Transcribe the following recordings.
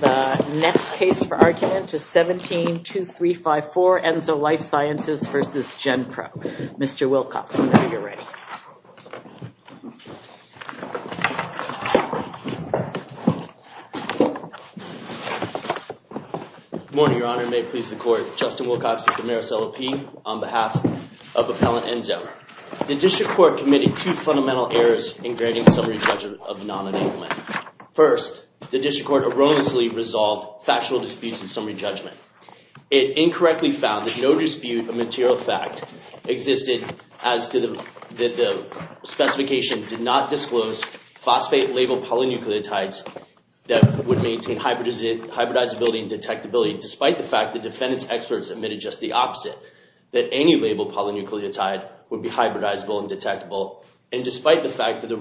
The next case for argument is 17-2354, Enzo Life Sciences v. Gen-Probe. Mr. Wilcox, whenever you're ready. Good morning, Your Honor. May it please the Court, Justin Wilcox of the Maris LLP on behalf of Appellant Enzo. The District Court committed two fundamental errors in granting summary judgment of non-enablement. First, the District Court erroneously resolved factual disputes in summary judgment. It incorrectly found that no dispute of material fact existed as to the specification did not disclose phosphate-labeled polynucleotides that would maintain hybridizability and detectability, despite the fact that defendant's experts admitted just the opposite, that any labeled polynucleotide would be hybridizable and detectable, and despite the fact that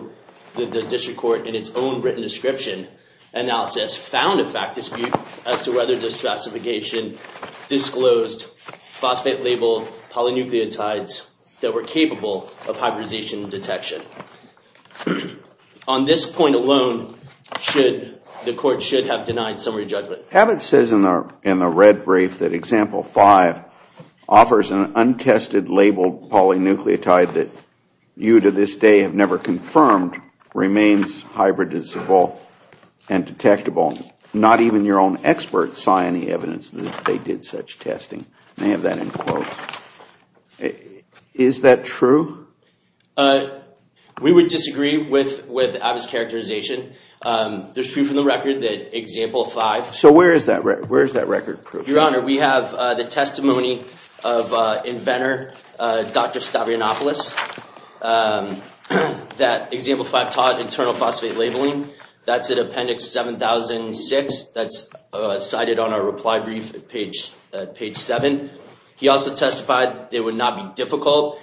the District Court in its own written description analysis found a fact dispute as to whether the specification disclosed phosphate-labeled polynucleotides that were capable of hybridization detection. On this point alone, the Court should have denied summary judgment. Abbott says in the red brief that Example 5 offers an untested labeled polynucleotide that you to this day have never confirmed remains hybridizable and detectable. Not even your own experts saw any evidence that they did such testing. May I have that in quotes? Is that true? We would disagree with Abbott's characterization. There's proof in the record that Example 5... So where is that record proof? Your Honor, we have the testimony of inventor Dr. Stavrionopoulos that Example 5 taught internal phosphate labeling. That's in Appendix 7006. That's cited on our reply brief at page 7. He also testified that it would not be difficult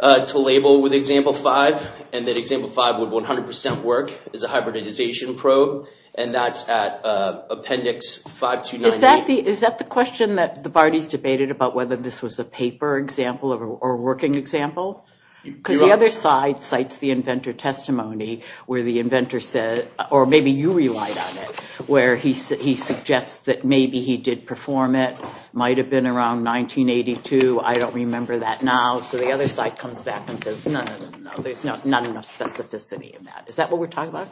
to label with Example 5 and that Example 5 would 100% work as a hybridization probe, and that's at Appendix 5298. Is that the question that the parties debated about whether this was a paper example or a working example? Because the other side cites the inventor testimony where the inventor said, or maybe you relied on it, where he suggests that maybe he did perform it, might have been around 1982, I don't remember that now. So the other side comes back and says, no, no, no, no, there's not enough specificity in that. Is that what we're talking about?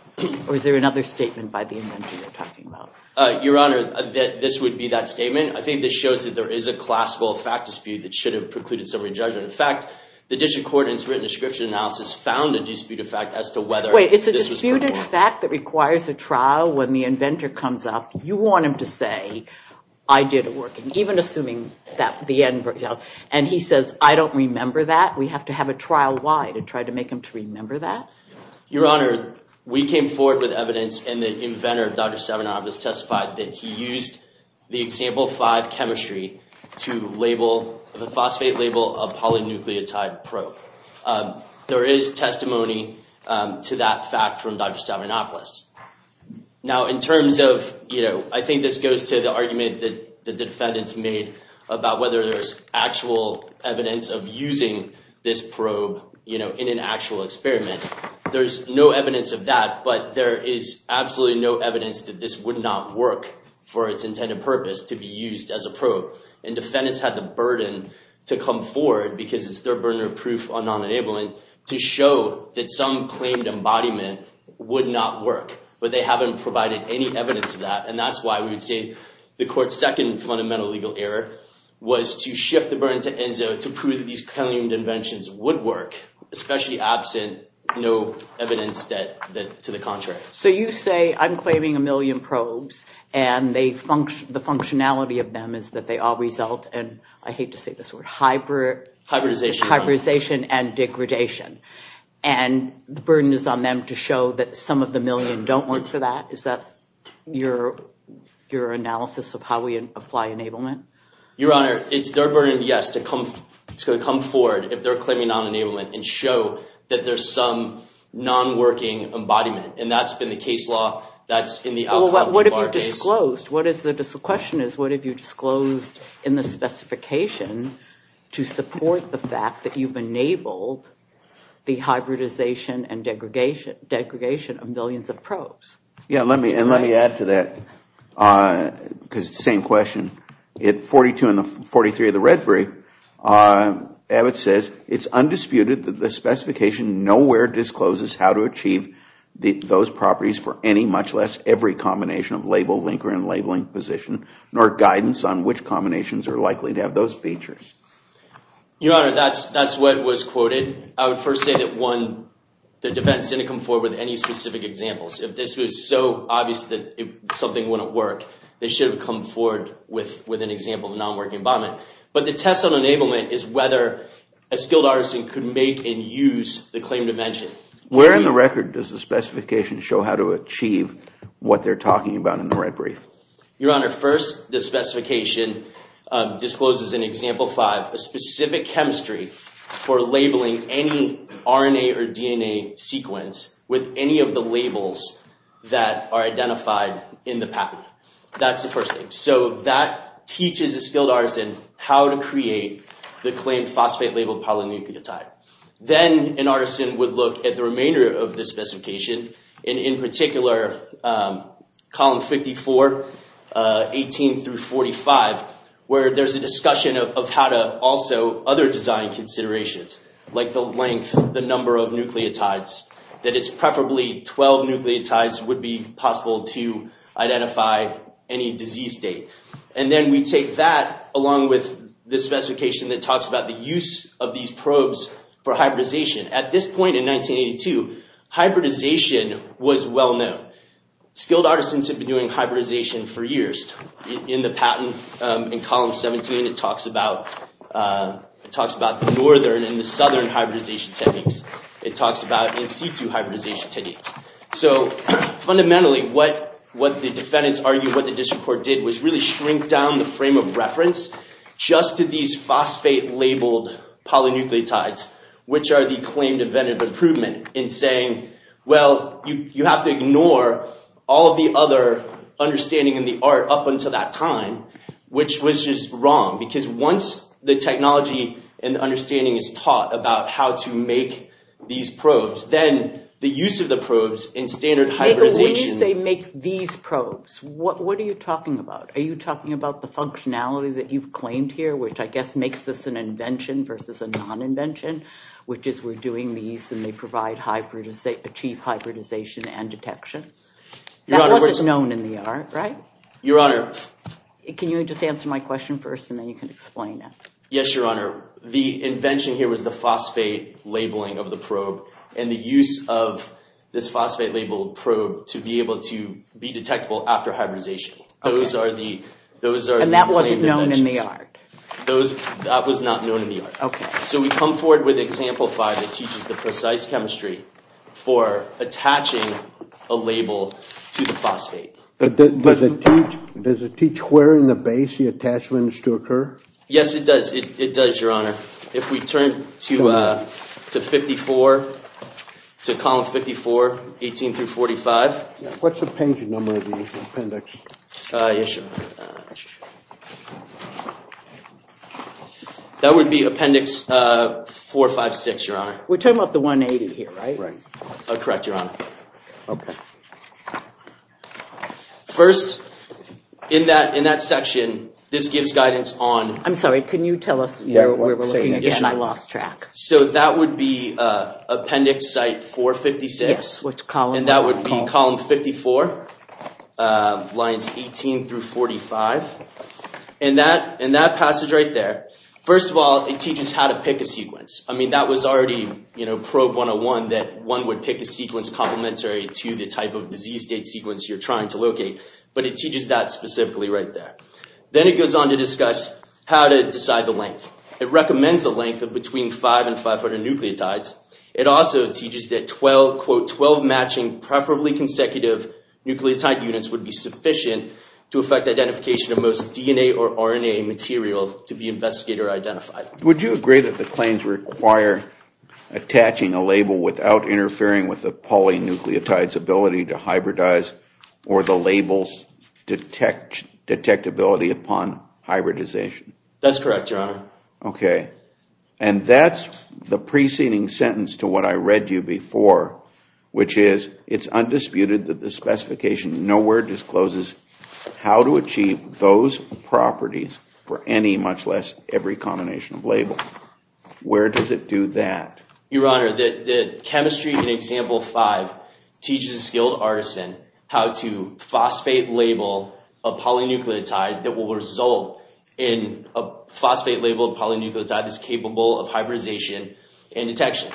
Or is there another statement by the inventor they're talking about? Your Honor, this would be that statement. I think this shows that there is a classical fact dispute that should have precluded some re-judgment. In fact, the District Court in its written description analysis found a disputed fact as to whether this was performed. When a fact that requires a trial, when the inventor comes up, you want him to say, I did it working, even assuming that the end result, and he says, I don't remember that, we have to have a trial why to try to make him to remember that? Your Honor, we came forward with evidence and the inventor, Dr. Stabenow, has testified that he used the Example 5 chemistry to label the phosphate label of polynucleotide probe. There is testimony to that fact from Dr. Stabenow. Now, in terms of, you know, I think this goes to the argument that the defendants made about whether there's actual evidence of using this probe, you know, in an actual experiment. There's no evidence of that, but there is absolutely no evidence that this would not work for its intended purpose to be used as a probe. And defendants had the burden to come forward, because it's their burden of proof on non-enablement, to show that some claimed embodiment would not work. But they haven't provided any evidence of that, and that's why we would say the court's second fundamental legal error was to shift the burden to ENSO to prove that these claimed inventions would work, especially absent no evidence to the contrary. So you say, I'm claiming a million probes, and the functionality of them is that they all result in, I hate to say this word, hybridization and degradation. And the burden is on them to show that some of the million don't work for that? Is that your analysis of how we apply enablement? Your Honor, it's their burden, yes, to come forward if they're claiming non-enablement and show that there's some non-working embodiment. And that's been the case law, that's in the outcome of our case. Well, what have you disclosed? The question is, what have you disclosed in the specification to support the fact that you've enabled the hybridization and degradation of millions of probes? Yeah, and let me add to that, because it's the same question. In 42 and 43 of the Redberry, Abbott says, it's undisputed that the specification nowhere discloses how to achieve those properties for any, much less every combination of label linker and labeling position, nor guidance on which combinations are likely to have those features. Your Honor, that's what was quoted. I would first say that, one, the defense didn't come forward with any specific examples. If this was so obvious that something wouldn't work, they should have come forward with an example of non-working embodiment. But the test on enablement is whether a skilled artisan could make and use the claim dimension. Where in the record does the specification show how to achieve what they're talking about in the Redbrief? Your Honor, first, the specification discloses in Example 5, a specific chemistry for labeling any RNA or DNA sequence with any of the labels that are identified in the pattern. That's the first thing. So that teaches a skilled artisan how to create the claim phosphate-labeled polynucleotide. Then an artisan would look at the remainder of the specification, and in particular, column 54, 18 through 45, where there's a discussion of how to also other design considerations, like the length, the number of nucleotides, that it's preferably 12 nucleotides would be possible to identify any disease date. And then we take that along with the specification that talks about the use of these probes for hybridization. At this point in 1982, hybridization was well-known. Skilled artisans had been doing hybridization for years. In the patent, in column 17, it talks about the northern and the southern hybridization techniques. It talks about in-situ hybridization techniques. So fundamentally, what the defendants argued, what the district court did, was really shrink down the frame of reference just to these phosphate-labeled polynucleotides, which are the claimed event of improvement, and saying, well, you have to ignore all of the other understanding in the art up until that time, which was just wrong. Because once the technology and the understanding is taught about how to make these probes, then the use of the probes in standard hybridization— When you say make these probes, what are you talking about? Are you talking about the functionality that you've claimed here, which I guess makes this an invention versus a non-invention, which is we're doing these and they provide—achieve hybridization and detection? That wasn't known in the art, right? Your Honor— Can you just answer my question first and then you can explain it? Yes, Your Honor. The invention here was the phosphate labeling of the probe and the use of this phosphate-labeled probe to be able to be detectable after hybridization. Those are the— And that wasn't known in the art? That was not known in the art. Okay. So we come forward with Example 5. It teaches the precise chemistry for attaching a label to the phosphate. Does it teach where in the base the attachment is to occur? Yes, it does. It does, Your Honor. If we turn to 54, to column 54, 18 through 45— What's the paging number of the appendix? Yes, Your Honor. That would be Appendix 456, Your Honor. We're talking about the 180 here, right? Correct, Your Honor. Okay. First, in that section, this gives guidance on— I'm sorry. Can you tell us where we're looking again? I lost track. So that would be Appendix Site 456. Yes, which column? And that would be column 54, lines 18 through 45. In that passage right there, first of all, it teaches how to pick a sequence. I mean, that was already, you know, Probe 101, that one would pick a sequence complementary to the type of disease date sequence you're trying to locate. But it teaches that specifically right there. Then it goes on to discuss how to decide the length. It recommends a length of between 5 and 500 nucleotides. It also teaches that 12, quote, 12 matching preferably consecutive nucleotide units would be sufficient to affect identification of most DNA or RNA material to be investigated or identified. Would you agree that the claims require attaching a label without interfering with the polynucleotide's ability to hybridize or the label's detectability upon hybridization? That's correct, Your Honor. Okay. And that's the preceding sentence to what I read to you before, which is it's undisputed that the specification nowhere discloses how to achieve those properties for any, much less every, combination of labels. Where does it do that? Your Honor, the chemistry in Example 5 teaches a skilled artisan how to phosphate label a polynucleotide that will result in a phosphate label a polynucleotide that's capable of hybridization and detection.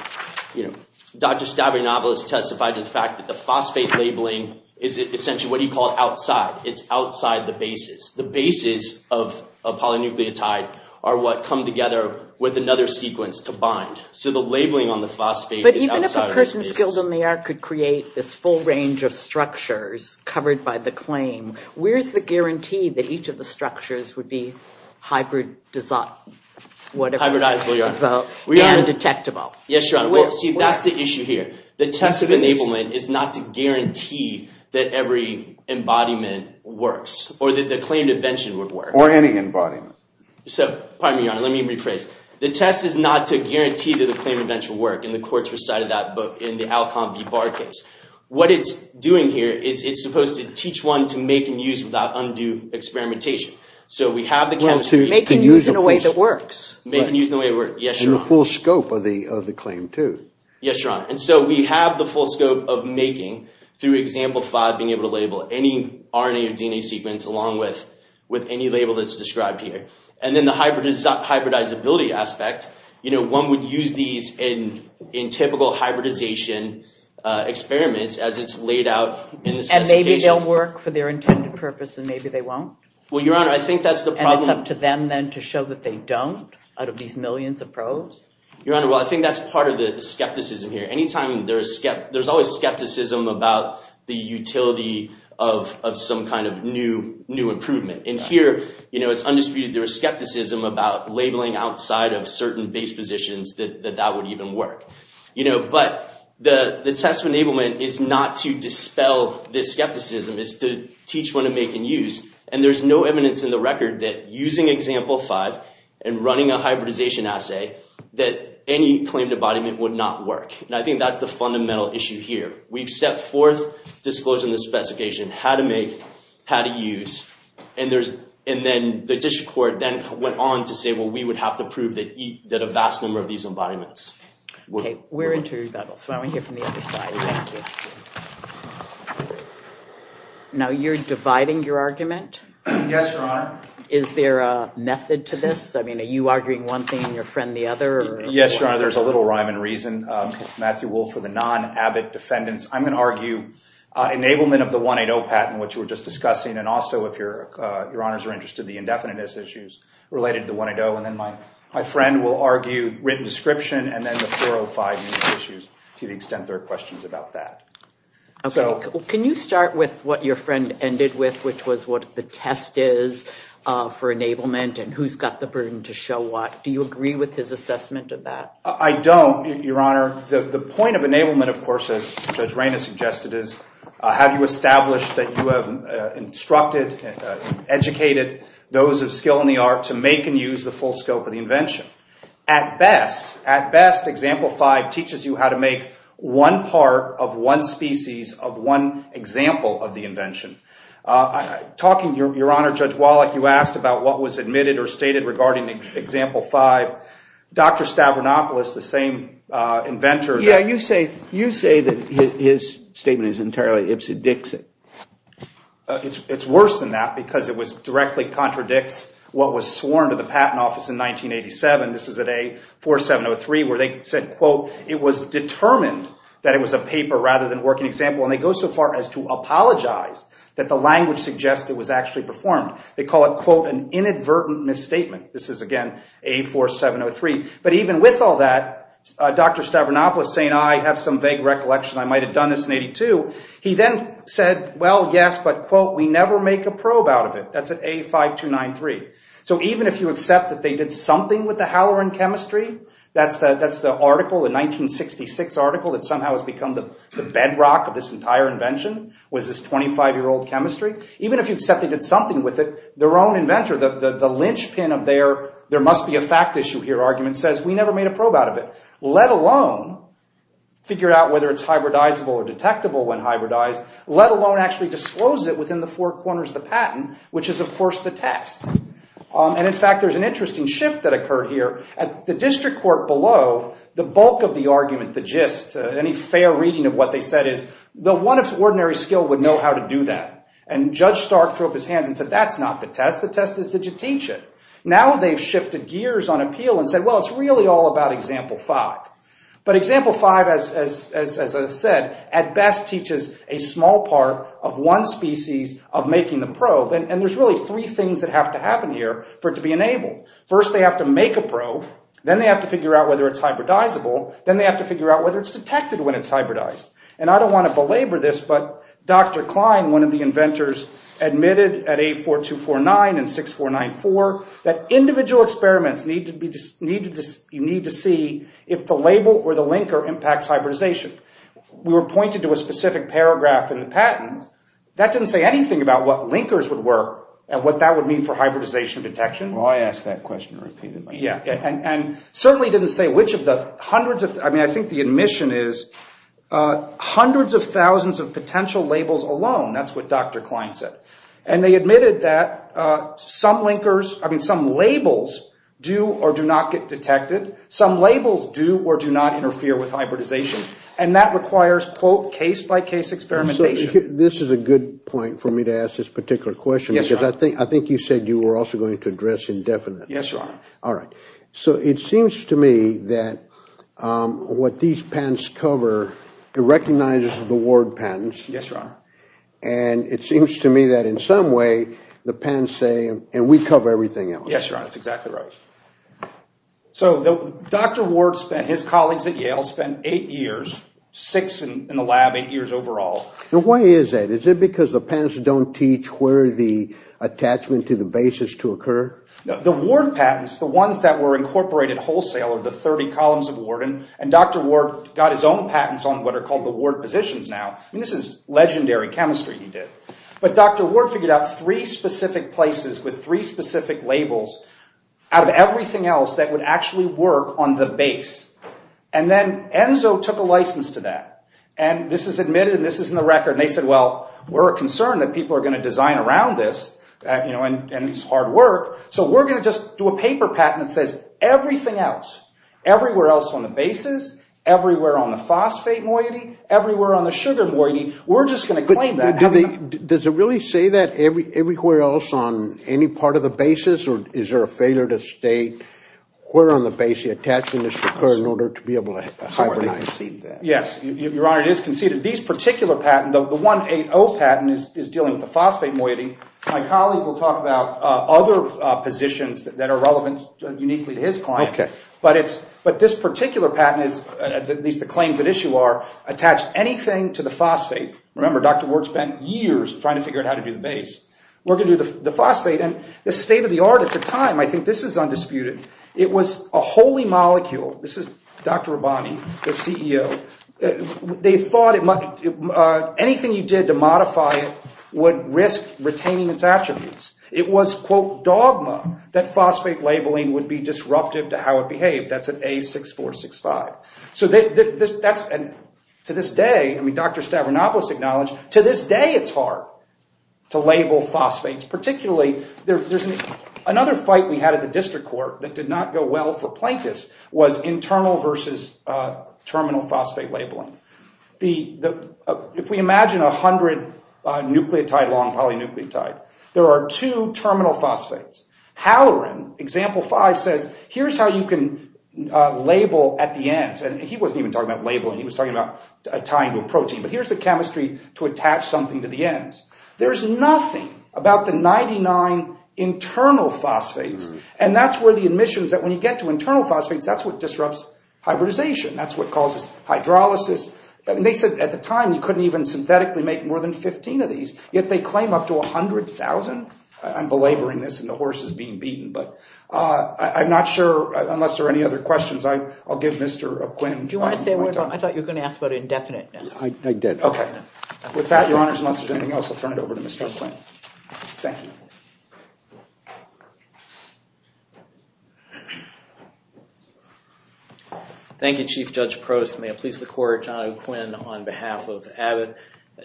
You know, Dr. Stavrinovel has testified to the fact that the phosphate labeling is essentially what he called outside. It's outside the basis. The basis of a polynucleotide are what come together with another sequence to bind. So the labeling on the phosphate is outside the basis. But even if a person skilled in the art could create this full range of structures covered by the claim, where's the guarantee that each of the structures would be hybridizable and detectable? Yes, Your Honor. See, that's the issue here. The test of enablement is not to guarantee that every embodiment works or that the claimed invention would work. Or any embodiment. So, pardon me, Your Honor. Let me rephrase. The test is not to guarantee that the claimed invention will work. And the courts recited that in the Alcon v. Barr case. What it's doing here is it's supposed to teach one to make and use without undue experimentation. Well, to make and use in a way that works. Make and use in a way that works. Yes, Your Honor. And the full scope of the claim, too. Yes, Your Honor. And so we have the full scope of making, through example five, being able to label any RNA or DNA sequence along with any label that's described here. And then the hybridizability aspect. You know, one would use these in typical hybridization experiments as it's laid out in the specification. Maybe they'll work for their intended purpose and maybe they won't. Well, Your Honor, I think that's the problem. And it's up to them, then, to show that they don't out of these millions of probes? Your Honor, well, I think that's part of the skepticism here. There's always skepticism about the utility of some kind of new improvement. And here it's undisputed there is skepticism about labeling outside of certain base positions that that would even work. But the test enablement is not to dispel this skepticism. It's to teach when to make and use. And there's no evidence in the record that using example five and running a hybridization assay that any claimed embodiment would not work. And I think that's the fundamental issue here. We've set forth disclosure in the specification how to make, how to use. And then the district court then went on to say, well, we would have to prove that a vast number of these embodiments would work. Okay, we're into rebuttals, so I want to hear from the other side. Thank you. Now, you're dividing your argument? Yes, Your Honor. Is there a method to this? I mean, are you arguing one thing and your friend the other? Yes, Your Honor, there's a little rhyme and reason. Matthew Wolf for the non-Abbott defendants. I'm going to argue enablement of the 180 patent, which we were just discussing, and also, if Your Honors are interested, the indefiniteness issues related to 180. And then my friend will argue written description and then the 405 issues to the extent there are questions about that. Okay, can you start with what your friend ended with, which was what the test is for enablement and who's got the burden to show what? Do you agree with his assessment of that? I don't, Your Honor. The point of enablement, of course, as Judge Raina suggested, is have you established that you have instructed, educated those of skill in the art to make and use the full scope of the invention. At best, at best, Example 5 teaches you how to make one part of one species of one example of the invention. Talking to Your Honor, Judge Wallach, you asked about what was admitted or stated regarding Example 5. Dr. Stavronopoulos, the same inventor. Yeah, you say that his statement is entirely ipsedixic. It's worse than that because it directly contradicts what was sworn to the Patent Office in 1987. This is at A4703 where they said, quote, it was determined that it was a paper rather than a working example. And they go so far as to apologize that the language suggests it was actually performed. They call it, quote, an inadvertent misstatement. This is, again, A4703. But even with all that, Dr. Stavronopoulos saying, I have some vague recollection. I might have done this in 82. He then said, well, yes, but, quote, we never make a probe out of it. That's at A5293. So even if you accept that they did something with the haloran chemistry, that's the article, the 1966 article that somehow has become the bedrock of this entire invention, was this 25-year-old chemistry. Even if you accept they did something with it, their own inventor, the linchpin of their there must be a fact issue here argument says we never made a probe out of it, let alone figure out whether it's hybridizable or detectable when hybridized, let alone actually disclose it within the four corners of the patent, which is, of course, the test. And, in fact, there's an interesting shift that occurred here. At the district court below, the bulk of the argument, the gist, any fair reading of what they said is the one of ordinary skill would know how to do that. And Judge Stark threw up his hands and said, that's not the test. The test is did you teach it? Now they've shifted gears on appeal and said, well, it's really all about Example 5. But Example 5, as I said, at best teaches a small part of one species of making the probe. And there's really three things that have to happen here for it to be enabled. First, they have to make a probe. Then they have to figure out whether it's hybridizable. Then they have to figure out whether it's detected when it's hybridized. And I don't want to belabor this, but Dr. Klein, one of the inventors, admitted at A4249 and 6494 that individual experiments need to see if the label or the linker impacts hybridization. We were pointed to a specific paragraph in the patent that didn't say anything about what linkers would work and what that would mean for hybridization detection. Well, I asked that question repeatedly. And certainly didn't say which of the hundreds of, I mean, I think the admission is hundreds of thousands of potential labels alone. That's what Dr. Klein said. And they admitted that some linkers, I mean, some labels do or do not get detected. Some labels do or do not interfere with hybridization. And that requires, quote, case-by-case experimentation. This is a good point for me to ask this particular question because I think you said you were also going to address indefinite. Yes, Your Honor. All right. So it seems to me that what these patents cover, it recognizes the Ward patents. Yes, Your Honor. And it seems to me that in some way the patents say, and we cover everything else. Yes, Your Honor. That's exactly right. So Dr. Ward spent, his colleagues at Yale spent eight years, six in the lab, eight years overall. And why is that? Is it because the patents don't teach where the attachment to the base is to occur? No. The Ward patents, the ones that were incorporated wholesale are the 30 columns of Ward. And Dr. Ward got his own patents on what are called the Ward positions now. I mean, this is legendary chemistry he did. But Dr. Ward figured out three specific places with three specific labels out of everything else that would actually work on the base. And then Enzo took a license to that. And this is admitted, and this is in the record. And they said, well, we're concerned that people are going to design around this, you know, and it's hard work. So we're going to just do a paper patent that says everything else, everywhere else on the bases, everywhere on the phosphate moiety, everywhere on the sugar moiety, we're just going to claim that. Does it really say that everywhere else on any part of the bases? Or is there a failure to state where on the base the attachment is to occur in order to be able to hibernate? Yes. Your Honor, it is conceded. These particular patents, the 180 patent is dealing with the phosphate moiety. My colleague will talk about other positions that are relevant uniquely to his client. Okay. But this particular patent is, at least the claims at issue are, attach anything to the phosphate. Remember, Dr. Ward spent years trying to figure out how to do the base. We're going to do the phosphate. And this is state of the art at the time. I think this is undisputed. It was a holy molecule. This is Dr. Rabani, the CEO. They thought anything you did to modify it would risk retaining its attributes. It was, quote, dogma that phosphate labeling would be disruptive to how it behaved. That's at A6465. So to this day, I mean Dr. Stavronopoulos acknowledged, to this day it's hard to label phosphates. Particularly, there's another fight we had at the district court that did not go well for plaintiffs, was internal versus terminal phosphate labeling. If we imagine 100 nucleotide long polynucleotide, there are two terminal phosphates. Halloran, example five, says here's how you can label at the ends. And he wasn't even talking about labeling. He was talking about tying to a protein. But here's the chemistry to attach something to the ends. There's nothing about the 99 internal phosphates, and that's where the admissions that when you get to internal phosphates, that's what disrupts hybridization. That's what causes hydrolysis. They said at the time you couldn't even synthetically make more than 15 of these, yet they claim up to 100,000. I'm belaboring this, and the horse is being beaten. But I'm not sure, unless there are any other questions, I'll give Mr. Quinn time. Do you want to say a word? I thought you were going to ask about indefiniteness. I did. Okay. With that, Your Honors, unless there's anything else, I'll turn it over to Mr. Quinn. Thank you. Thank you, Chief Judge Prost. May it please the Court, John O'Quinn on behalf of Abbott.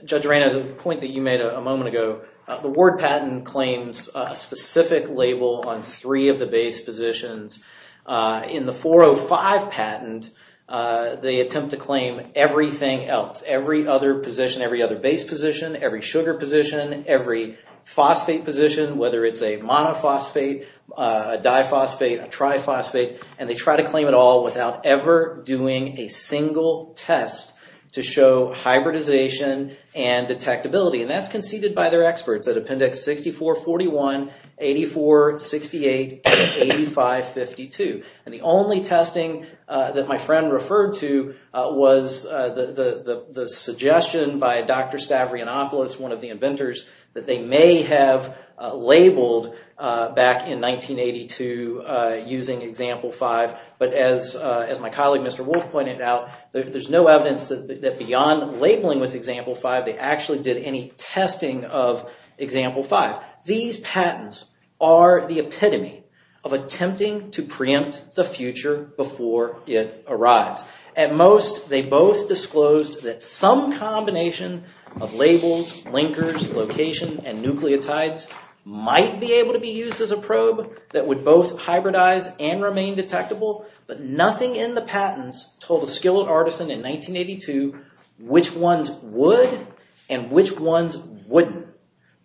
Judge Reina, the point that you made a moment ago, the Ward patent claims a specific label on three of the base positions. In the 405 patent, they attempt to claim everything else, every other position, every other base position, every sugar position, every phosphate position, whether it's a monophosphate, a diphosphate, a triphosphate, and they try to claim it all without ever doing a single test to show hybridization and detectability. And that's conceded by their experts at Appendix 6441, 84, 68, and 8552. And the only testing that my friend referred to was the suggestion by Dr. Stavrianopoulos, one of the inventors, that they may have labeled back in 1982 using Example 5. But as my colleague, Mr. Wolf, pointed out, there's no evidence that beyond labeling with Example 5, they actually did any testing of Example 5. These patents are the epitome of attempting to preempt the future before it arrives. At most, they both disclosed that some combination of labels, linkers, location, and nucleotides might be able to be used as a probe that would both hybridize and remain detectable, but nothing in the patents told a skilled artisan in 1982 which ones would and which ones wouldn't,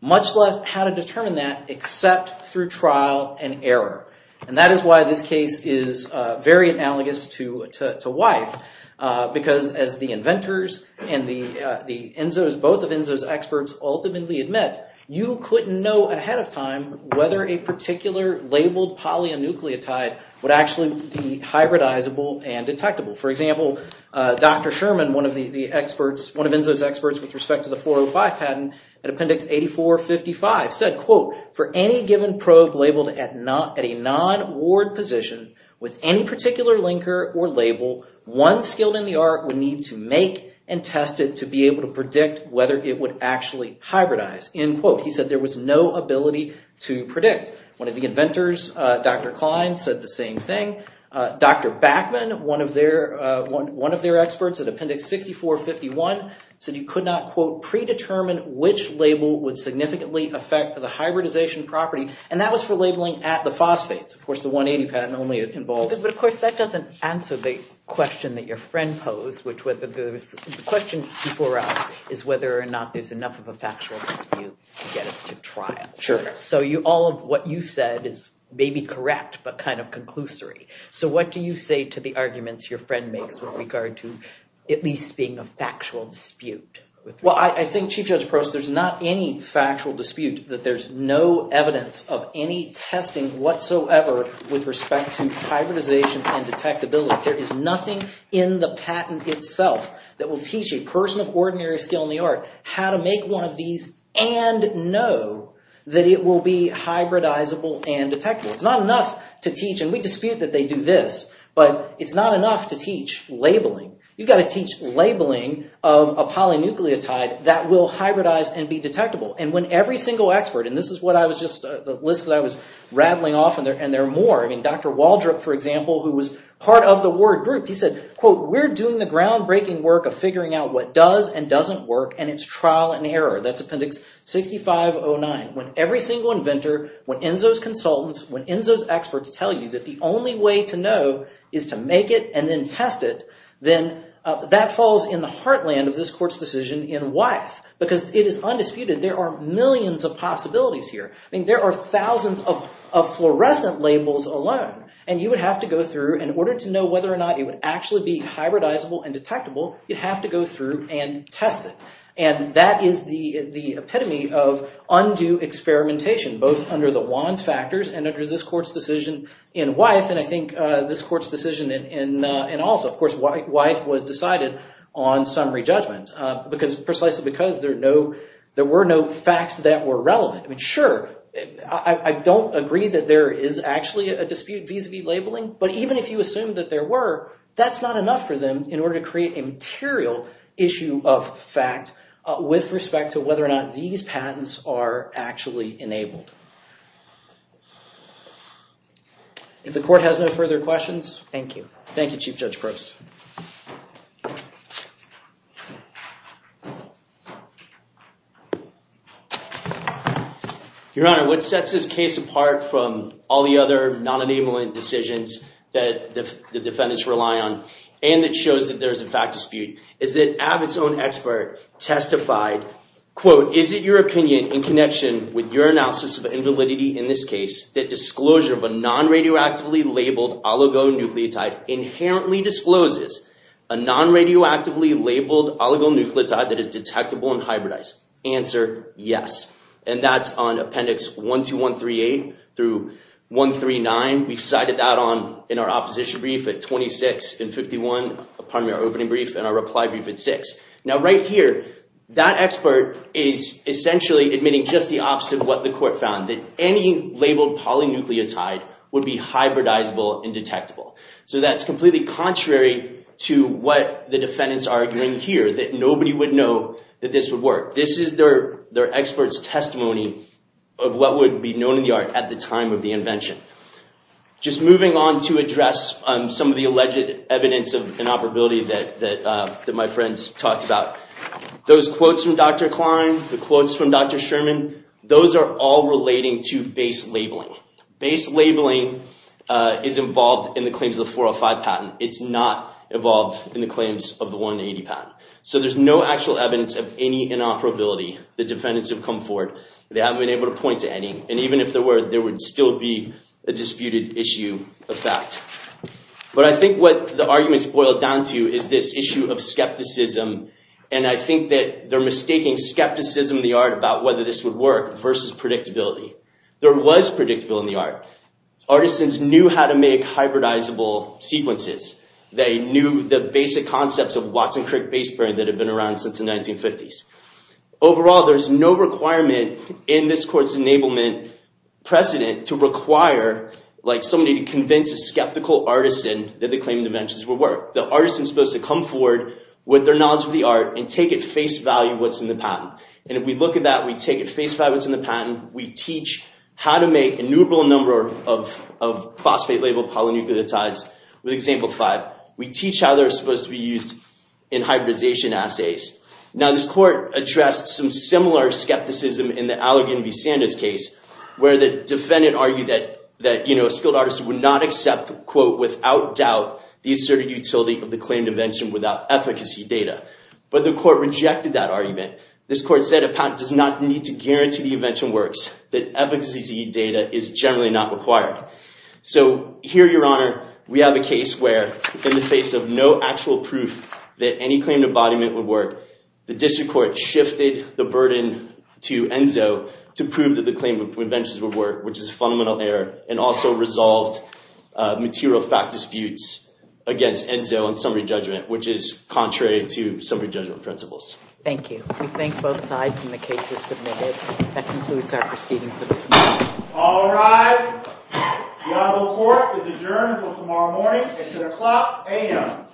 much less how to determine that except through trial and error. And that is why this case is very analogous to Wythe, because as the inventors and both of ENSO's experts ultimately admit, you couldn't know ahead of time whether a particular labeled polynucleotide would actually be hybridizable and detectable. with respect to the 405 patent at Appendix 8455 said, He said there was no ability to predict. One of the inventors, Dr. Klein, said the same thing. Dr. Backman, one of their experts at Appendix 6451, said you could not, quote, And that was for labeling at the phosphates. Of course, the 180 patent only involves... But of course, that doesn't answer the question that your friend posed, which was the question before us is whether or not there's enough of a factual dispute to get us to trial. So all of what you said is maybe correct, but kind of conclusory. So what do you say to the arguments your friend makes with regard to at least being a factual dispute? Well, I think, Chief Judge Prost, there's not any factual dispute that there's no evidence of any testing whatsoever with respect to hybridization and detectability. There is nothing in the patent itself that will teach a person of ordinary skill in the art how to make one of these and know that it will be hybridizable and detectable. It's not enough to teach, and we dispute that they do this, but it's not enough to teach labeling. You've got to teach labeling of a polynucleotide that will hybridize and be detectable. And when every single expert... And this is what I was just... The list that I was rattling off, and there are more. I mean, Dr. Waldrop, for example, who was part of the ward group, he said, quote, That's Appendix 6509. When every single inventor, when ENSO's consultants, when ENSO's experts tell you that the only way to know is to make it and then test it, then that falls in the heartland of this court's decision in Wyeth. Because it is undisputed. There are millions of possibilities here. I mean, there are thousands of fluorescent labels alone. And you would have to go through, in order to know whether or not it would actually be hybridizable and detectable, you'd have to go through and test it. And that is the epitome of undue experimentation, both under the Wands factors and under this court's decision in Wyeth, and I think this court's decision in... And also, of course, Wyeth was decided on summary judgment, precisely because there were no facts that were relevant. I mean, sure, I don't agree that there is actually a dispute vis-a-vis labeling, but even if you assume that there were, that's not enough for them in order to create a material issue of fact with respect to whether or not these patents are actually enabled. If the court has no further questions... Thank you. Thank you, Chief Judge Prost. Your Honor, what sets this case apart from all the other non-enablement decisions that the defendants rely on, and that shows that there is, in fact, a dispute, is that Abbott's own expert testified, quote, is it your opinion in connection with your analysis of invalidity in this case that disclosure of a non-radioactively labeled oligonucleotide inherently discloses a non-radioactively labeled oligonucleotide that is detectable and hybridized? Answer, yes. And that's on appendix 12138 through 139. We've cited that in our opposition brief at 26 and 51, pardon me, our opening brief and our reply brief at 6. Now right here, that expert is essentially admitting just the opposite of what the court found, that any labeled polynucleotide would be hybridizable and detectable. So that's completely contrary to what the defendants are arguing here, that nobody would know that this would work. This is their expert's testimony of what would be known in the art at the time of the invention. Just moving on to address some of the alleged evidence of inoperability that my friends talked about. Those quotes from Dr. Klein, the quotes from Dr. Sherman, those are all relating to base labeling. Base labeling is involved in the claims of the 405 patent. It's not involved in the claims of the 180 patent. So there's no actual evidence of any inoperability. The defendants have come forward. They haven't been able to point to any. And even if there were, there would still be a disputed issue of fact. But I think what the arguments boil down to is this issue of skepticism. And I think that they're mistaking skepticism in the art about whether this would work versus predictability. There was predictability in the art. Artisans knew how to make hybridizable sequences. They knew the basic concepts of Watson-Crick base pairing that had been around since the 1950s. Overall, there's no requirement in this court's enablement precedent to require somebody to convince a skeptical artisan that the claimed inventions would work. The artisan's supposed to come forward with their knowledge of the art and take at face value what's in the patent. And if we look at that, we take at face value what's in the patent. We teach how to make a numerable number of phosphate-labeled polynucleotides with example five. We teach how they're supposed to be used in hybridization assays. Now, this court addressed some similar skepticism in the Allergan v. Sanders case where the defendant argued that a skilled artisan would not accept, quote, without doubt, the asserted utility of the claimed invention without efficacy data. But the court rejected that argument. This court said a patent does not need to guarantee the invention works, that efficacy data is generally not required. So here, Your Honor, we have a case where, in the face of no actual proof that any claimed embodiment would work, the district court shifted the burden to Enzo to prove that the claimed inventions would work, which is a fundamental error, and also resolved material fact disputes against Enzo in summary judgment, which is contrary to summary judgment principles. Thank you. We thank both sides, and the case is submitted. That concludes our proceeding for this morning. All rise. The honorable court is adjourned until tomorrow morning at 10 o'clock a.m.